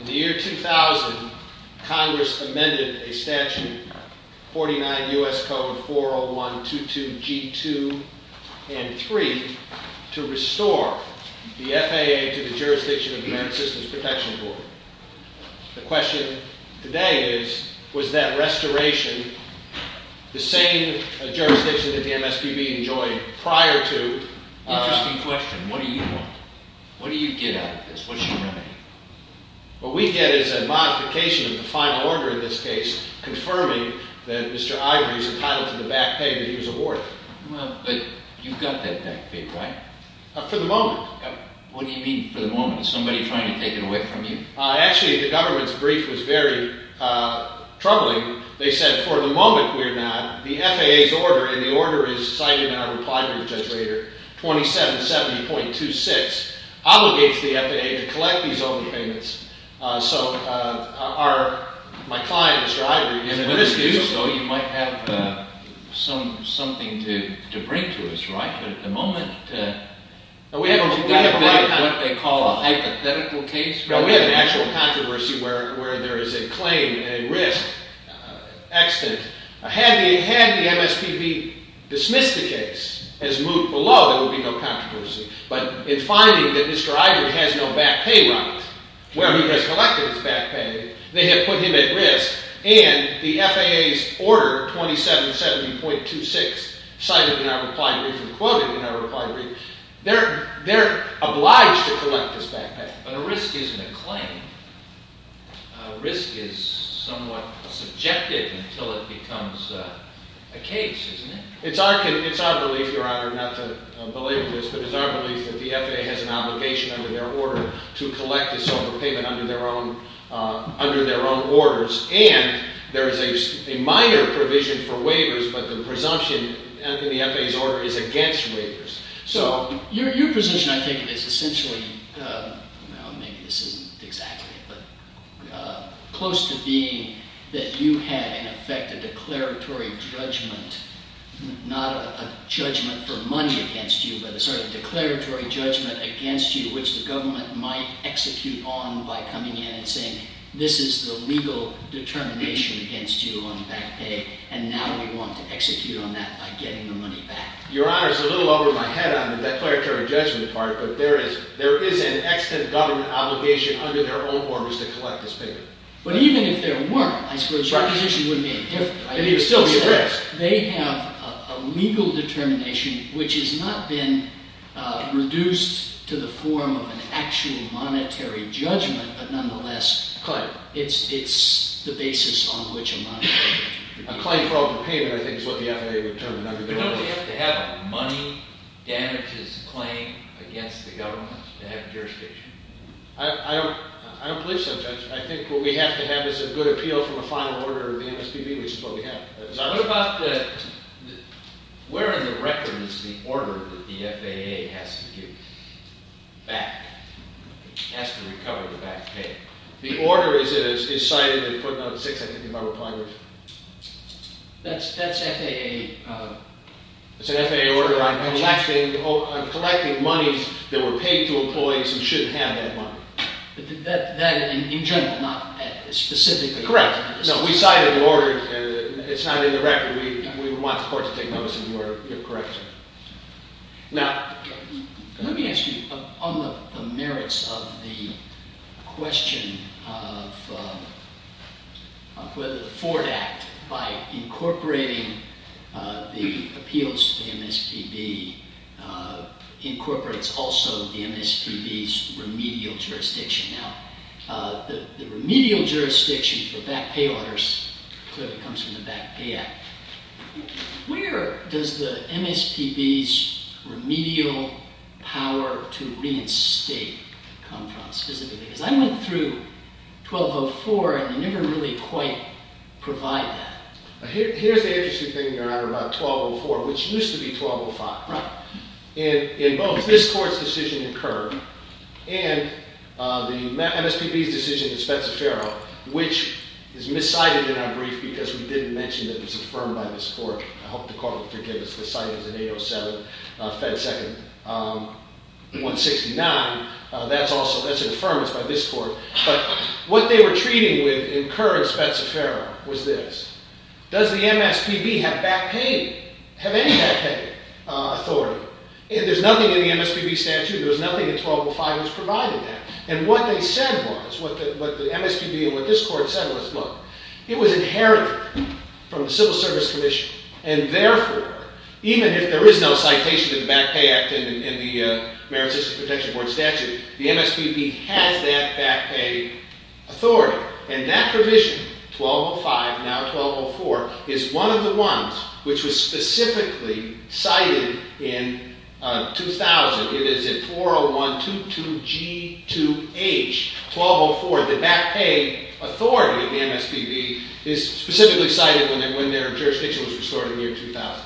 In the year 2000, Congress amended a Statute 49 U.S. Code 401-22-G2 and 3 to restore the FAA to the Jurisdiction of the American Systems Protection Board. The question today is, was that restoration the same jurisdiction that the MSPB enjoyed prior to? Interesting question. What do you want? What do you get out of this? What's your remedy? What we get is a modification of the final order in this case confirming that Mr. Ivery is entitled to the back pay that he was awarded. But you've got that back pay, right? For the moment. What do you mean, for the moment? Is somebody trying to take it away from you? Actually, the government's brief was very troubling. They said, for the moment, we're not. The FAA's order, and the order is cited in our reply to Judge Rader, 2770.26, obligates the FAA to collect these overpayments. So, my client, Mr. Ivery, is in the dispute. So you might have something to bring to us, right? But at the moment, we haven't got a break. What they call a hypothetical case? No, we have an actual controversy where there is a claim, a risk, accident. Had the MSPB dismissed the case, as moved below, there would be no controversy. But in finding that Mr. Ivery has no back pay right, where he has collected his back pay, they have put him at risk. And the FAA's order, 2770.26, cited in our reply brief and quoted in our reply brief, they're obliged to collect this back pay. But a risk isn't a claim. A risk is somewhat subjective until it becomes a case, isn't it? It's our belief, Your Honor, not to belabor this, but it's our belief that the FAA has an obligation under their order to collect this overpayment under their own orders. And there is a minor provision for waivers, but the presumption in the FAA's order is against waivers. So, your position, I take it, is essentially, well, maybe this isn't exactly it, but close to being that you had, in effect, a declaratory judgment. Not a judgment for money against you, but a sort of declaratory judgment against you, which the government might execute on by coming in and saying, this is the legal determination against you on back pay, and now we want to execute on that by getting the money back. Your Honor, it's a little over my head on the declaratory judgment part, but there is an extant government obligation under their own orders to collect this payment. But even if there weren't, I suppose your position would be different. I mean, it would still be a risk. They have a legal determination which has not been reduced to the form of an actual monetary judgment, but nonetheless, it's the basis on which a monetary judgment is made. A claim for overpayment, I think, is what the FAA would term an undergoing order. But don't we have to have a money damages claim against the government to have jurisdiction? I don't believe so, Judge. I think what we have to have is a good appeal from a final order of the MSPB, which is what we have. Where in the record is the order that the FAA has to give back, has to recover the back pay? The order is cited in footnote 6, I think, in my reply, Judge. That's FAA? It's an FAA order on collecting monies that were paid to employees who shouldn't have that money. But that in general, not specifically? Correct. No, we cite an order. It's not in the record. We would want the court to take notice of the order. You're correct. Now, let me ask you, on the merits of the question of whether the Ford Act, by incorporating the appeals to the MSPB, incorporates also the MSPB's remedial jurisdiction. Now, the remedial jurisdiction for back pay orders clearly comes from the Back Pay Act. Where does the MSPB's remedial power to reinstate come from, specifically? Because I went through 1204, and they never really quite provide that. Here's the interesting thing, Your Honor, about 1204, which used to be 1205. Right. In both, this court's decision in Kerr and the MSPB's decision in Spezza-Ferro, which is miscited in our brief because we didn't mention that it was affirmed by this court. I hope the court will forgive us. The site is in 807, Fed 2nd, 169. That's also, that's an affirmance by this court. But what they were treating with in Kerr and Spezza-Ferro was this. Does the MSPB have back pay? Have any back pay authority? There's nothing in the MSPB statute. There's nothing in 1205 that's providing that. And what they said was, what the MSPB and what this court said was, look, it was inherited from the Civil Service Commission. And therefore, even if there is no citation to the Back Pay Act in the Merit System Protection Board statute, the MSPB has that back pay authority. And that provision, 1205, now 1204, is one of the ones which was specifically cited in 2000. It is in 40122G2H, 1204. The back pay authority of the MSPB is specifically cited when their jurisdiction was restored in the year 2000.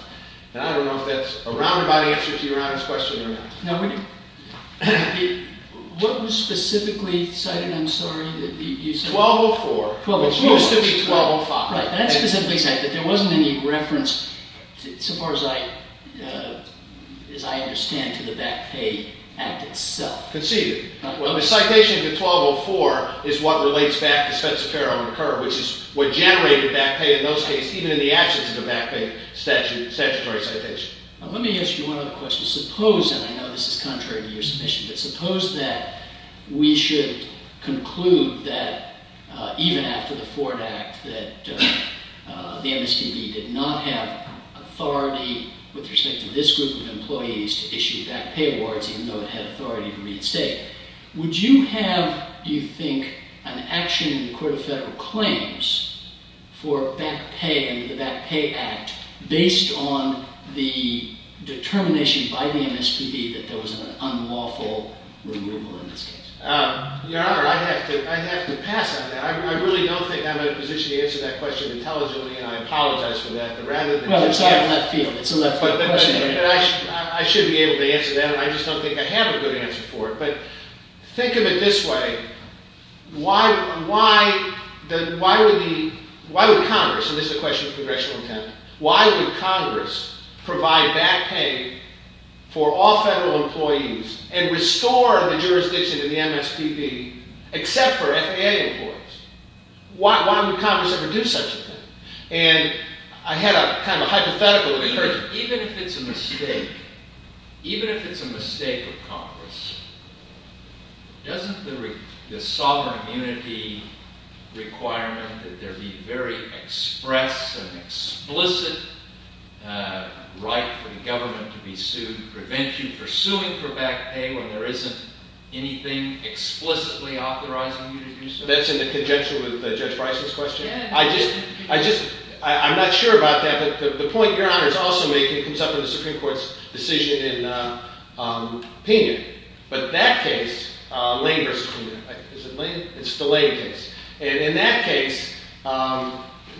And I don't know if that's a roundabout answer to your honest question or not. Now, what was specifically cited? I'm sorry, you said? 1204. It used to be 1205. Right. That's specifically cited. There wasn't any reference, so far as I understand, to the Back Pay Act itself. Conceded. The citation to 1204 is what relates back to Spezza-Ferro and Kerr, which is what generated back pay in those cases, even in the absence of a back pay statutory citation. Let me ask you one other question. Suppose, and I know this is contrary to your submission, but suppose that we should conclude that, even after the Ford Act, that the MSPB did not have authority with respect to this group of employees to issue back pay awards, even though it had authority to reinstate. Would you have, do you think, an action in the Court of Federal Claims for back pay under the Back Pay Act, based on the determination by the MSPB that there was an unlawful removal in this case? Your Honor, I'd have to pass on that. I really don't think I'm in a position to answer that question intelligently, and I apologize for that. But rather than just answer that, I should be able to answer that, and I just don't think I have a good answer for it. Think of it this way. Why would Congress, and this is a question of congressional intent, why would Congress provide back pay for all federal employees and restore the jurisdiction of the MSPB, except for FAA employees? Why would Congress ever do such a thing? I had a kind of hypothetical. Even if it's a mistake of Congress, doesn't the sovereign immunity requirement that there be very express and explicit right for the government to be sued prevent you from suing for back pay when there isn't anything explicitly authorizing you to do so? That's in conjunction with Judge Bryson's question. I'm not sure about that, but the point Your Honor is also making comes up in the Supreme Court's decision in Pena. But that case, Lane versus Pena, is it Lane? It's the Lane case. And in that case,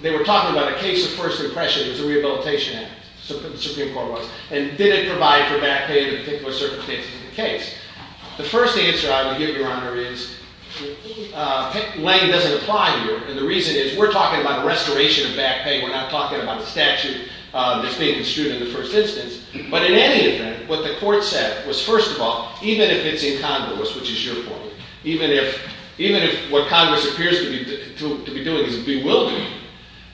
they were talking about a case of first impression. It was a rehabilitation act, the Supreme Court was. And did it provide for back pay in particular circumstances in the case? The first answer I would give, Your Honor, is Lane doesn't apply here. And the reason is we're talking about restoration of back pay. We're not talking about a statute that's being construed in the first instance. But in any event, what the court said was, first of all, even if it's incongruous, which is your point, even if what Congress appears to be doing is bewildering,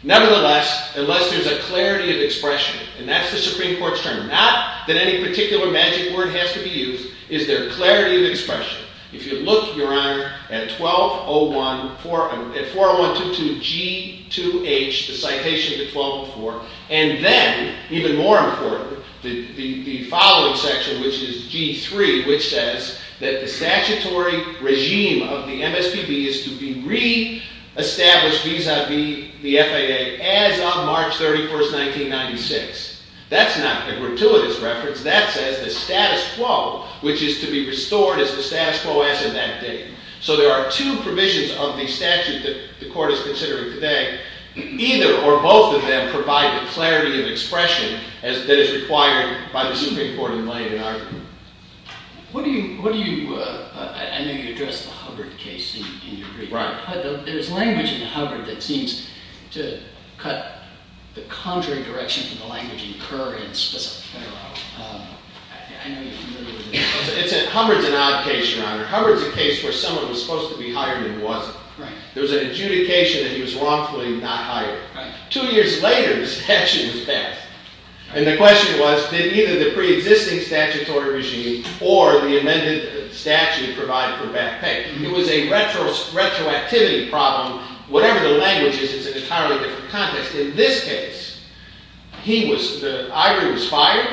nevertheless, unless there's a clarity of expression, and that's the Supreme Court's term, not that any particular magic word has to be used, is there clarity of expression. If you look, Your Honor, at 40122G2H, the citation to 1204, and then, even more important, the following section, which is G3, which says that the statutory regime of the MSPB is to be re-established vis-a-vis the FAA as of March 31st, 1996. That's not a gratuitous reference. That says the status quo, which is to be restored as the status quo as of that date. So there are two provisions of the statute that the court is considering today, either or both of them provide the clarity of expression that is required by the Supreme Court in laying an argument. What do you, I know you addressed the Hubbard case in your brief. Right. There's language in Hubbard that seems to cut the conjuring direction from the language incurred in specific federal law. I know you're familiar with it. Hubbard's an odd case, Your Honor. Hubbard's a case where someone was supposed to be hired and wasn't. Right. It was an adjudication that he was wrongfully not hired. Right. Two years later, the statute was passed. And the question was, did either the pre-existing statutory regime or the amended statute provide for bad pay? It was a retroactivity problem. Whatever the language is, it's an entirely different context. In this case, he was, the argument was fired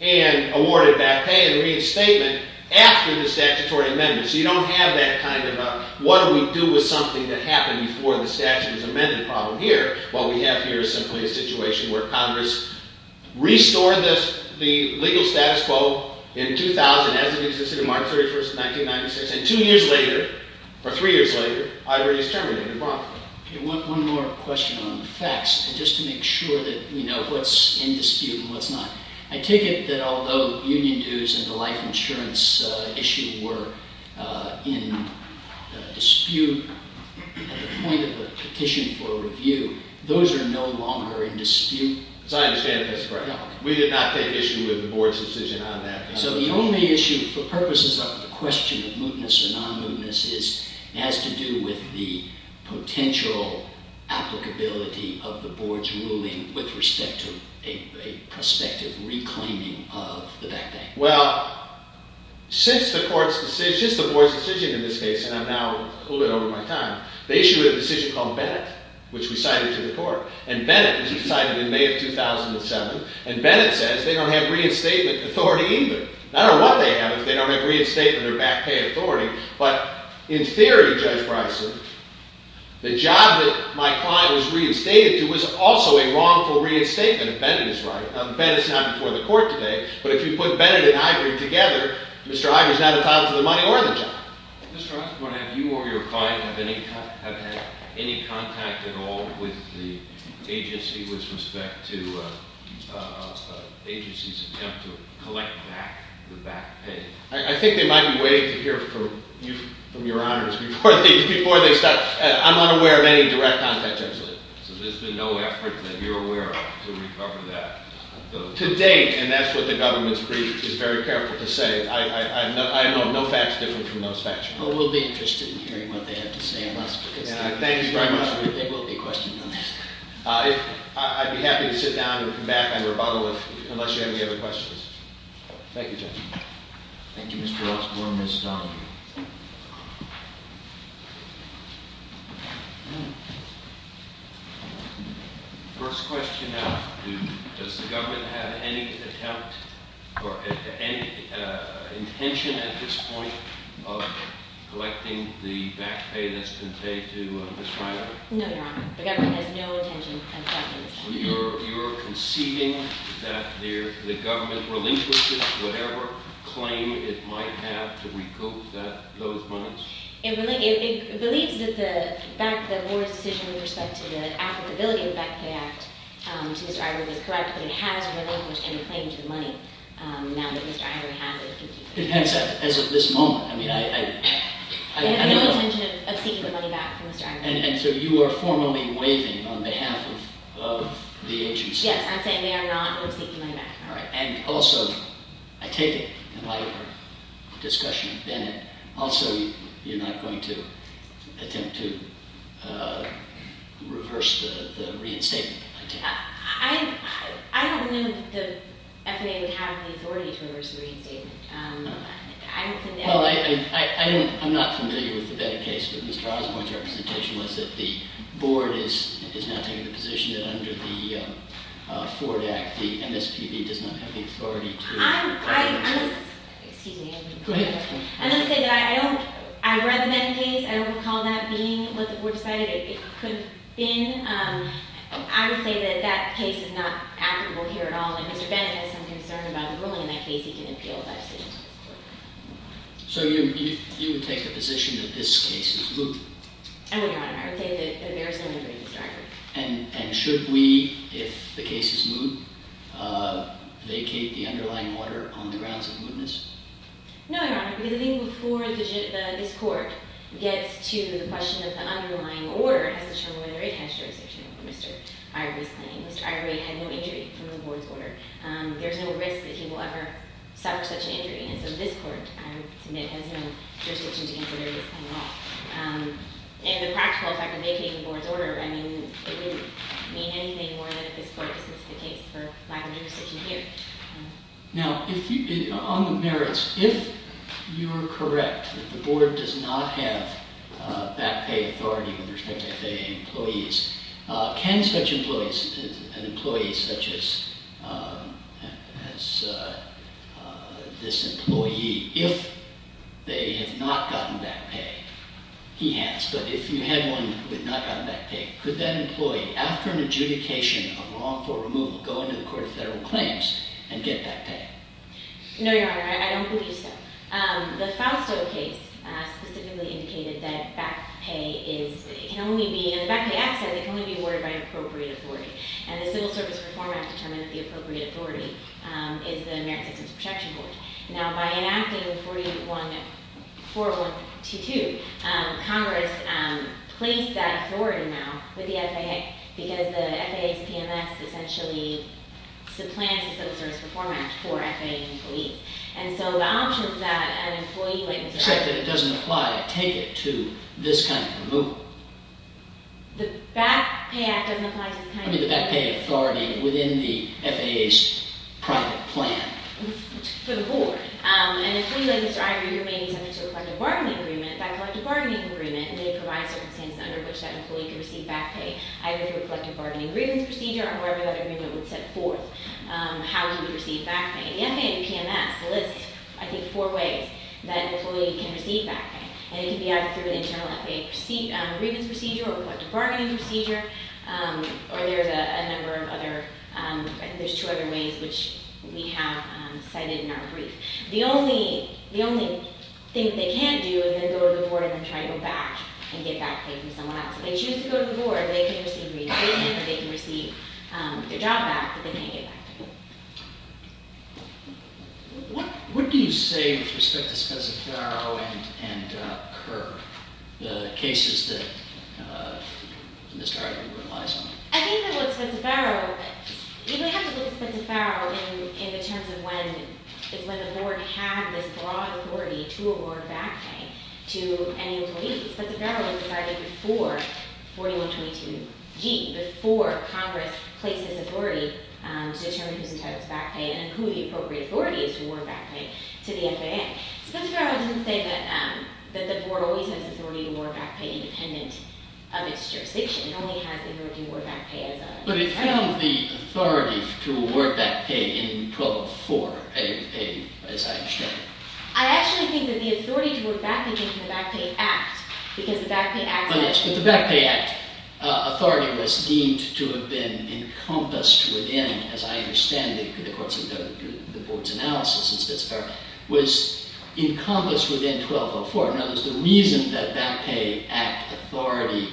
and awarded bad pay and reinstatement after the statutory amendment. So you don't have that kind of a, what do we do with something that happened before the statute was amended problem here? What we have here is simply a situation where Congress restored the legal status quo in 2000 as it existed on March 31st, 1996. And two years later, or three years later, Ivory is terminated in Bronx. I want one more question on the facts, just to make sure that we know what's in dispute and what's not. I take it that although union dues and the life insurance issue were in dispute at the point of the petition for review, those are no longer in dispute? As I understand it, that's correct. We did not take issue with the board's decision on that. So the only issue for purposes of the question of mootness or non-mootness is it has to do with the potential applicability of the board's ruling with respect to a prospective reclaiming of the back pay. Well, since the board's decision in this case, and I'm now a little bit over my time, they issued a decision called Bennett, which we cited to the court. And Bennett, which we cited in May of 2007. And Bennett says they don't have reinstatement authority either. I don't know what they have if they don't have reinstatement or back pay authority. But in theory, Judge Bryson, the job that my client was reinstated to was also a wrongful reinstatement if Bennett is right. Bennett's not before the court today. But if you put Bennett and Ivory together, Mr. Ivory's not entitled to the money or the job. Mr. Osborne, have you or your client have had any contact at all with the agency with respect to agency's attempt to collect back the back pay? I think they might be waiting to hear from you, from your honors, before they start. I'm unaware of any direct contact, actually. So there's been no effort that you're aware of to recover that? To date, and that's what the government's brief is very careful to say, I have no facts different from those facts. Well, we'll be interested in hearing what they have to say on this, because- Thank you very much. There will be questions on this. I'd be happy to sit down and come back and rebuttal it, unless you have any other questions. Thank you, Judge. Thank you, Mr. Osborne. Ms. Donahue. First question, does the government have any attempt or any intention at this point of collecting the back pay that's been paid to Ms. Reiner? No, Your Honor. The government has no intention of collecting the back pay. You're conceiving that the government relinquishes whatever claim it might have to recoup those monies? It believes that the fact that more decision with respect to the applicability of the Back Pay Act to Mr. Ivory was correct, but it has relinquished any claim to the money, now that Mr. Ivory has it. It has, as of this moment. I mean, I- They have no intention of seeking the money back from Mr. Ivory. And so you are formally waiving on behalf of the agency? Yes, I'm saying they are not seeking the money back. All right. And also, I take it, in light of our discussion with Bennett, also you're not going to attempt to reverse the reinstatement attempt? I don't know that the F&A would have the authority to reverse the reinstatement. I'm not familiar with the case, but Mr. Osborne's representation was that the board is now taking the position that under the Ford Act, the MSPB does not have the authority to- I'm just- Excuse me. Go ahead. I'm just saying that I don't- I read the Bennett case. I don't recall that being what the board decided it could have been. I would say that that case is not applicable here at all, and Mr. Bennett has some concern about ruling in that case. He can appeal if that's the case. So you would take the position that this case is looped? I would not, Your Honor. I would say that there is no injury, Mr. Ivey. And should we, if the case is moot, vacate the underlying order on the grounds of mootness? No, Your Honor, because even before this court gets to the question of the underlying order, it has to show whether it has jurisdiction over Mr. Ivey's claim. Mr. Ivey had no injury from the board's order. There's no risk that he will ever suffer such an injury, and so this court, I would submit, has no jurisdiction to consider his claim at all. And the practical effect of vacating the board's order, I mean, it wouldn't mean anything more than if this court was to take it for lack of jurisdiction here. Now, on the merits, if you're correct that the board does not have back pay authority with respect to FAA employees, can such employees, an employee such as this employee, if they have not gotten back pay, he has, but if you had one who had not gotten back pay, could that employee, after an adjudication of wrongful removal, go into the Court of Federal Claims and get back pay? No, Your Honor, I don't believe so. The Fausto case specifically indicated that back pay is, it can only be, in the back pay act, it can only be awarded by appropriate authority. And the Civil Service Reform Act determines the appropriate authority is the Merit Systems Protection Board. Now, by enacting 4122, Congress placed that authority now with the FAA, because the FAA's PMS essentially supplants the Civil Service Reform Act for FAA employees. And so the option for that, an employee like this... Except that it doesn't apply, take it to this kind of removal. The back pay act doesn't apply to the kind of... I mean, the back pay authority within the FAA's private plan. For the board. And the employee like this, either you're making something to a collective bargaining agreement, that collective bargaining agreement, and they provide circumstances under which that employee can receive back pay, either through a collective bargaining grievance procedure, or whatever that agreement would set forth, how he would receive back pay. The FAA PMS lists, I think, four ways that an employee can receive back pay. And it can be either through an internal FAA grievance procedure, or a collective bargaining procedure, or there's a number of other... I think there's two other ways, which we have cited in our brief. The only thing they can't do is go to the board and try to go back and get back pay from someone else. If they choose to go to the board, they can receive reinstatement, or they can receive their job back, but they can't get back pay. What do you say with respect to Spencer-Farrow and Kerr? The cases that Mr. Harding relies on? I think that with Spencer-Farrow, you have to look at Spencer-Farrow in the terms of when it's when the board had this broad authority to award back pay to any employee. Spencer-Farrow was decided before 4122G, before Congress placed this authority to determine who's entitled to back pay, and who the appropriate authority is to award back pay to the FAA. Spencer-Farrow doesn't say that the board always has authority to award back pay independent of its jurisdiction. It only has authority to award back pay as a... But it found the authority to award back pay in 1204, as I understand it. I actually think that the authority to award back pay came from the Back Pay Act, because the Back Pay Act... Oh yes, but the Back Pay Act authority was deemed to have been encompassed within, as I understand it, because of the board's analysis of Spencer-Farrow, was encompassed within 1204. Now, the reason that Back Pay Act authority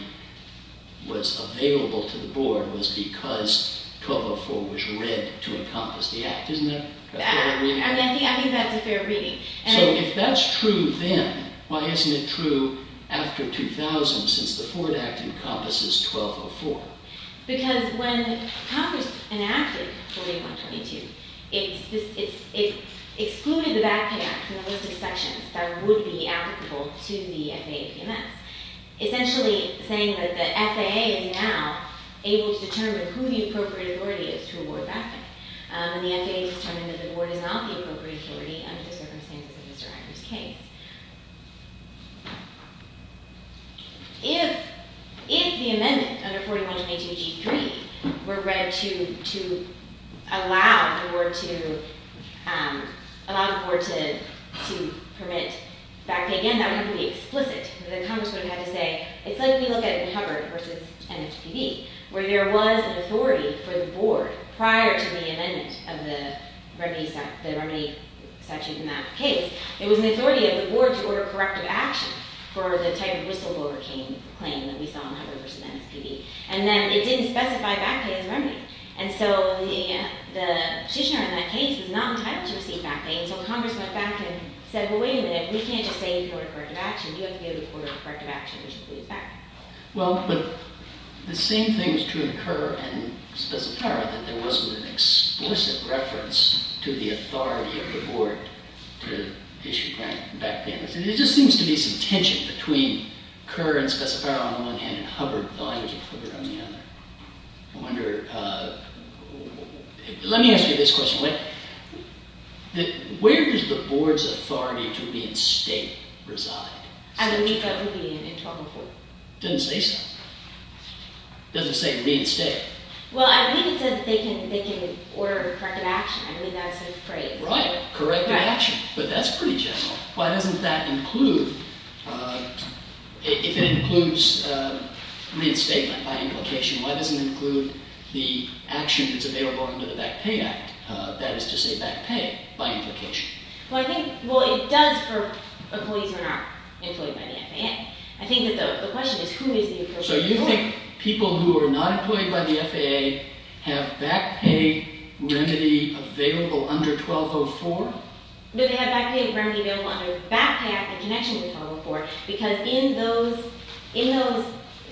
was available to the board was because 1204 was read to encompass the Act, isn't it? I think that's a fair reading. So if that's true then, why isn't it true after 2000, since the Ford Act encompasses 1204? Because when Congress enacted 4122, it excluded the Back Pay Act from the list of sections that would be applicable to the FAA PMS. Essentially saying that the FAA is now able to determine who the appropriate authority is to award back pay. And the FAA has determined that the board is not the appropriate authority under the circumstances of Mr. Iger's case. If the amendment under 4122-G3 were read to allow the board to permit back pay again, that would be explicit. The Congress would have to say, it's like when you look at Hubbard v. NHPD, where there was an authority for the board prior to the amendment of the remedy statute in that case. There was an authority of the board to order corrective action for the type of whistleblower claim that we saw in Hubbard v. NHPD. And then it didn't specify back pay as a remedy. And so the petitioner in that case was not entitled to receive back pay. And so Congress went back and said, well, wait a minute. We can't just say you can order corrective action. You have to be able to order corrective action, which includes back pay. Well, but the same thing is true in Kerr and Spessetaro, that there wasn't an explicit reference to the authority of the board to issue back payments. And there just seems to be some tension between Kerr and Spessetaro on one hand and Hubbard v. NHPD on the other. I wonder, let me ask you this question. Where does the board's authority to reinstate reside? I believe that would be in 1204. It doesn't say so. It doesn't say reinstate. Well, I think it says that they can order corrective action. I mean, that's a phrase. Right, corrective action. But that's pretty general. Why doesn't that include, if it includes reinstatement by implication, why doesn't it include the action that's available under the Back Pay Act? That is to say back pay by implication. Well, I think, well, it does for employees who are not employed by the FAA. I think that the question is, who is the employee? So you think people who are not employed by the FAA have back pay remedy available under 1204? No, they have back pay remedy available under the Back Pay Act in connection with 1204, because in those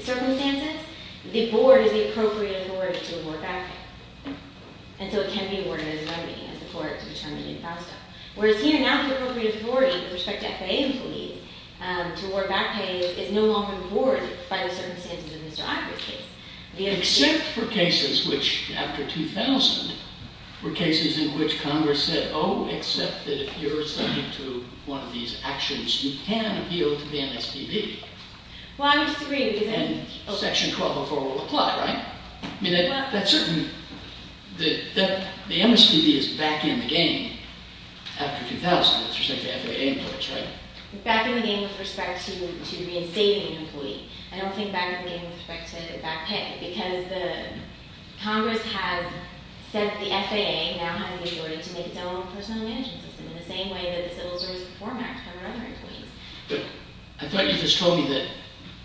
circumstances, the board is the appropriate authority to award back pay. And so it can be awarded as a remedy, as the court determined in Fausto. Whereas here, now the appropriate authority with respect to FAA employees to award back pay is no longer the board by the circumstances of Mr. Ivor's case. Except for cases which, after 2000, were cases in which Congress said, oh, except that if you're subject to one of these actions, you can appeal to the MSPB. Well, I would disagree with you. And Section 1204 will apply, right? I mean, that's certain that the MSPB is back in the game after 2000, with respect to FAA employees, right? Back in the game with respect to reinstating an employee. I don't think back in the game with respect to back pay, because the Congress has sent the FAA, now having been awarded, to make its own personal management system, in the same way that the Civil Service Reform Act for our other employees. But I thought you just told me that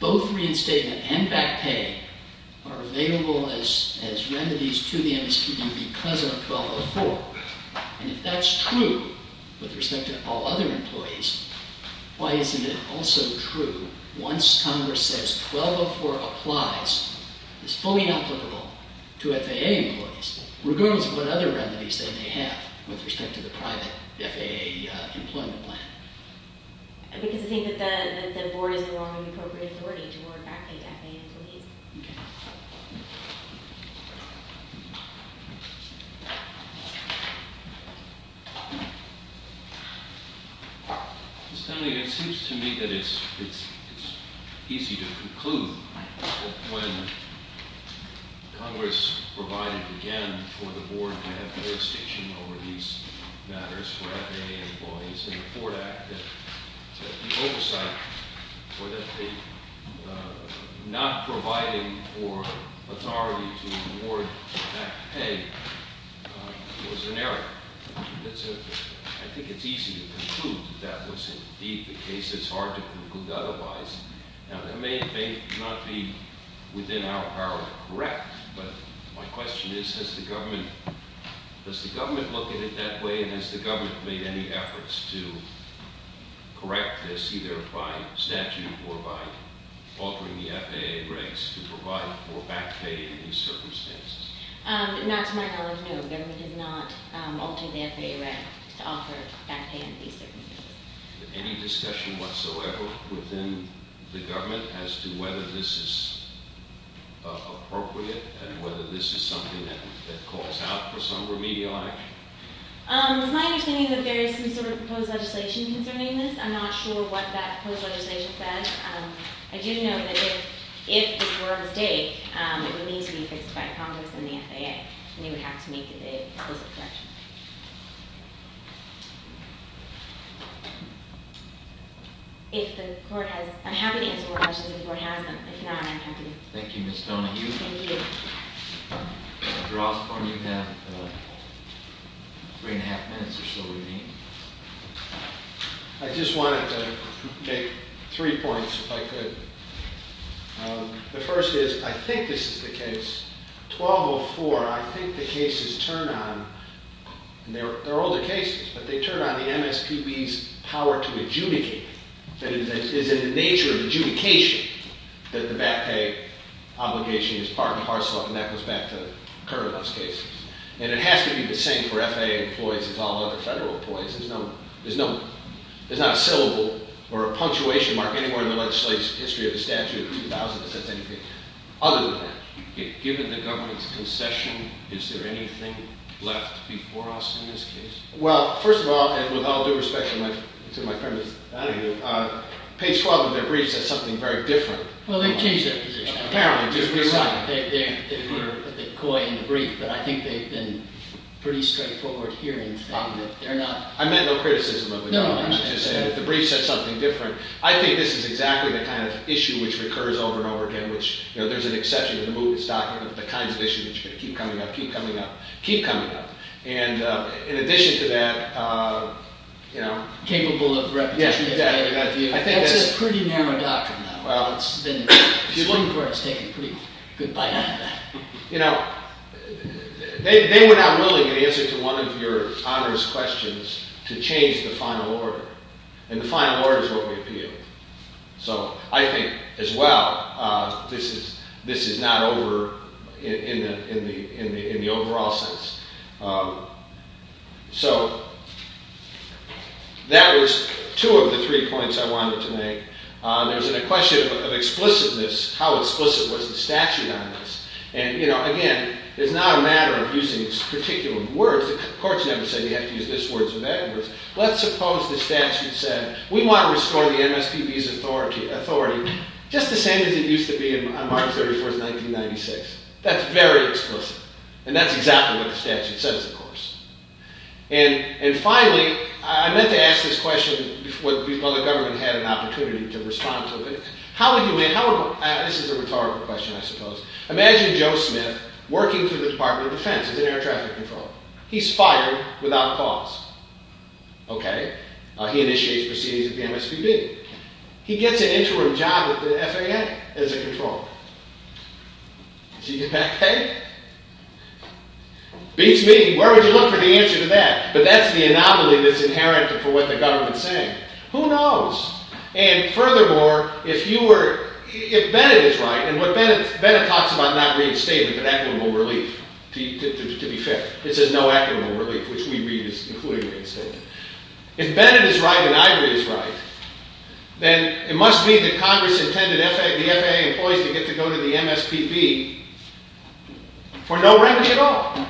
both reinstatement and back pay are available as remedies to the MSPB because of 1204. And if that's true, with respect to all other employees, why isn't it also true, once Congress says 1204 applies, it's fully applicable to FAA employees, regardless of what other remedies they may have with respect to the private FAA employment plan? Because I think that the board is the wrong and appropriate authority to award back pay to FAA employees. Okay. Ms. Tenley, it seems to me that it's easy to conclude that when Congress provided again for the board to have jurisdiction over these matters for FAA employees in the Ford Act, that the oversight or that the not providing for authority to award back pay was an error. I think it's easy to conclude that that was indeed the case. It's hard to conclude otherwise. Now, that may not be within our power to correct, but my question is, does the government look at it that way and has the government made any efforts to correct this either by statute or by altering the FAA regs to provide for back pay in these circumstances? Not to my knowledge, no. The government has not altered the FAA reg to offer back pay in these circumstances. Any discussion whatsoever within the government as to whether this is appropriate and whether this is something that calls out for some remedial action? It's my understanding that there is some sort of proposed legislation concerning this. I'm not sure what that proposed legislation says. I do know that if this were a mistake, it would need to be fixed by Congress and the FAA. And they would have to make the explicit correction. If the court has... I'm happy to answer questions if the court has them. If not, I'm happy to... Thank you, Ms. Donahue. Thank you. Dr. Osborne, you have 3 1⁄2 minutes or so remaining. I just wanted to make three points, if I could. The first is, I think this is the case. 1204, I think the cases turn on, and they're older cases, but they turn on the MSPB's power to adjudicate. That is in the nature of adjudication that the back pay obligation is part and parcel and that goes back to current US cases. And it has to be the same for FAA employees as all other federal employees. There's not a syllable or a punctuation mark anywhere in the legislative history of the statute of 2000 that says anything other than that. Given the government's concession, is there anything left before us in this case? Well, first of all, and with all due respect to my friend Ms. Donahue, page 12 of their brief says something very different. Well, they've changed their position. Apparently. They put the coy in the brief, but I think they've been pretty straightforward here in saying that they're not... I meant no criticism of the government. I just said that the brief said something different. I think this is exactly the kind of issue which recurs over and over again, which, you know, there's an exception in the movement's document, the kinds of issues that keep coming up, keep coming up, keep coming up. And in addition to that, you know... Capable of repetition... That's a pretty narrow doctrine, though. Well... It's one where it's taken a pretty good bite out of that. You know, they were not willing to answer to one of your onerous questions to change the final order. And the final order is what we appeal. So I think, as well, this is not over in the overall sense. So... That was two of the three points I wanted to make. There's a question of explicitness, how explicit was the statute on this? And, you know, again, it's not a matter of using particular words. The courts never said you have to use this word or that word. Let's suppose the statute said we want to restore the MSPB's authority just the same as it used to be on March 31, 1996. That's very explicit. And that's exactly what the statute says, of course. And finally, I meant to ask this question before the government had an opportunity to respond to it. This is a rhetorical question, I suppose. Imagine Joe Smith working for the Department of Defense as an air traffic controller. He's fired without cause. Okay. He initiates proceedings at the MSPB. He gets an interim job at the FAA as a controller. Does he get back pay? Beats me. Where would you look for the answer to that? But that's the anomaly that's inherent for what the government's saying. Who knows? And furthermore, if you were... If Bennett is right, and what Bennett... Bennett talks about not reading statements with equitable relief, to be fair. It says no equitable relief, which we read, including reading statements. If Bennett is right, and I read his right, then it must mean that Congress intended the FAA employees to get to go to the MSPB for no remuneration at all.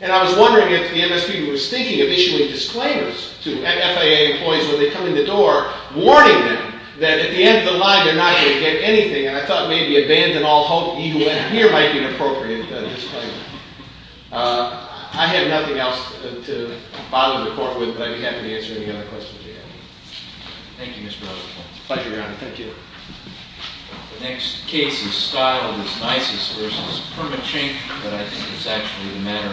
And I was wondering if the MSPB was thinking of issuing disclaimers to FAA employees when they come in the door, warning them that at the end of the line they're not going to get anything. And I thought maybe abandon all hope, and here might be an appropriate disclaimer. I have nothing else to bother the court with, but I'd be happy to answer any other questions you have. Thank you, Mr. Rutherford. Pleasure, Your Honor. Thank you. The next case is Stiles v. Permachink, but I think it's actually the matter involving his detention.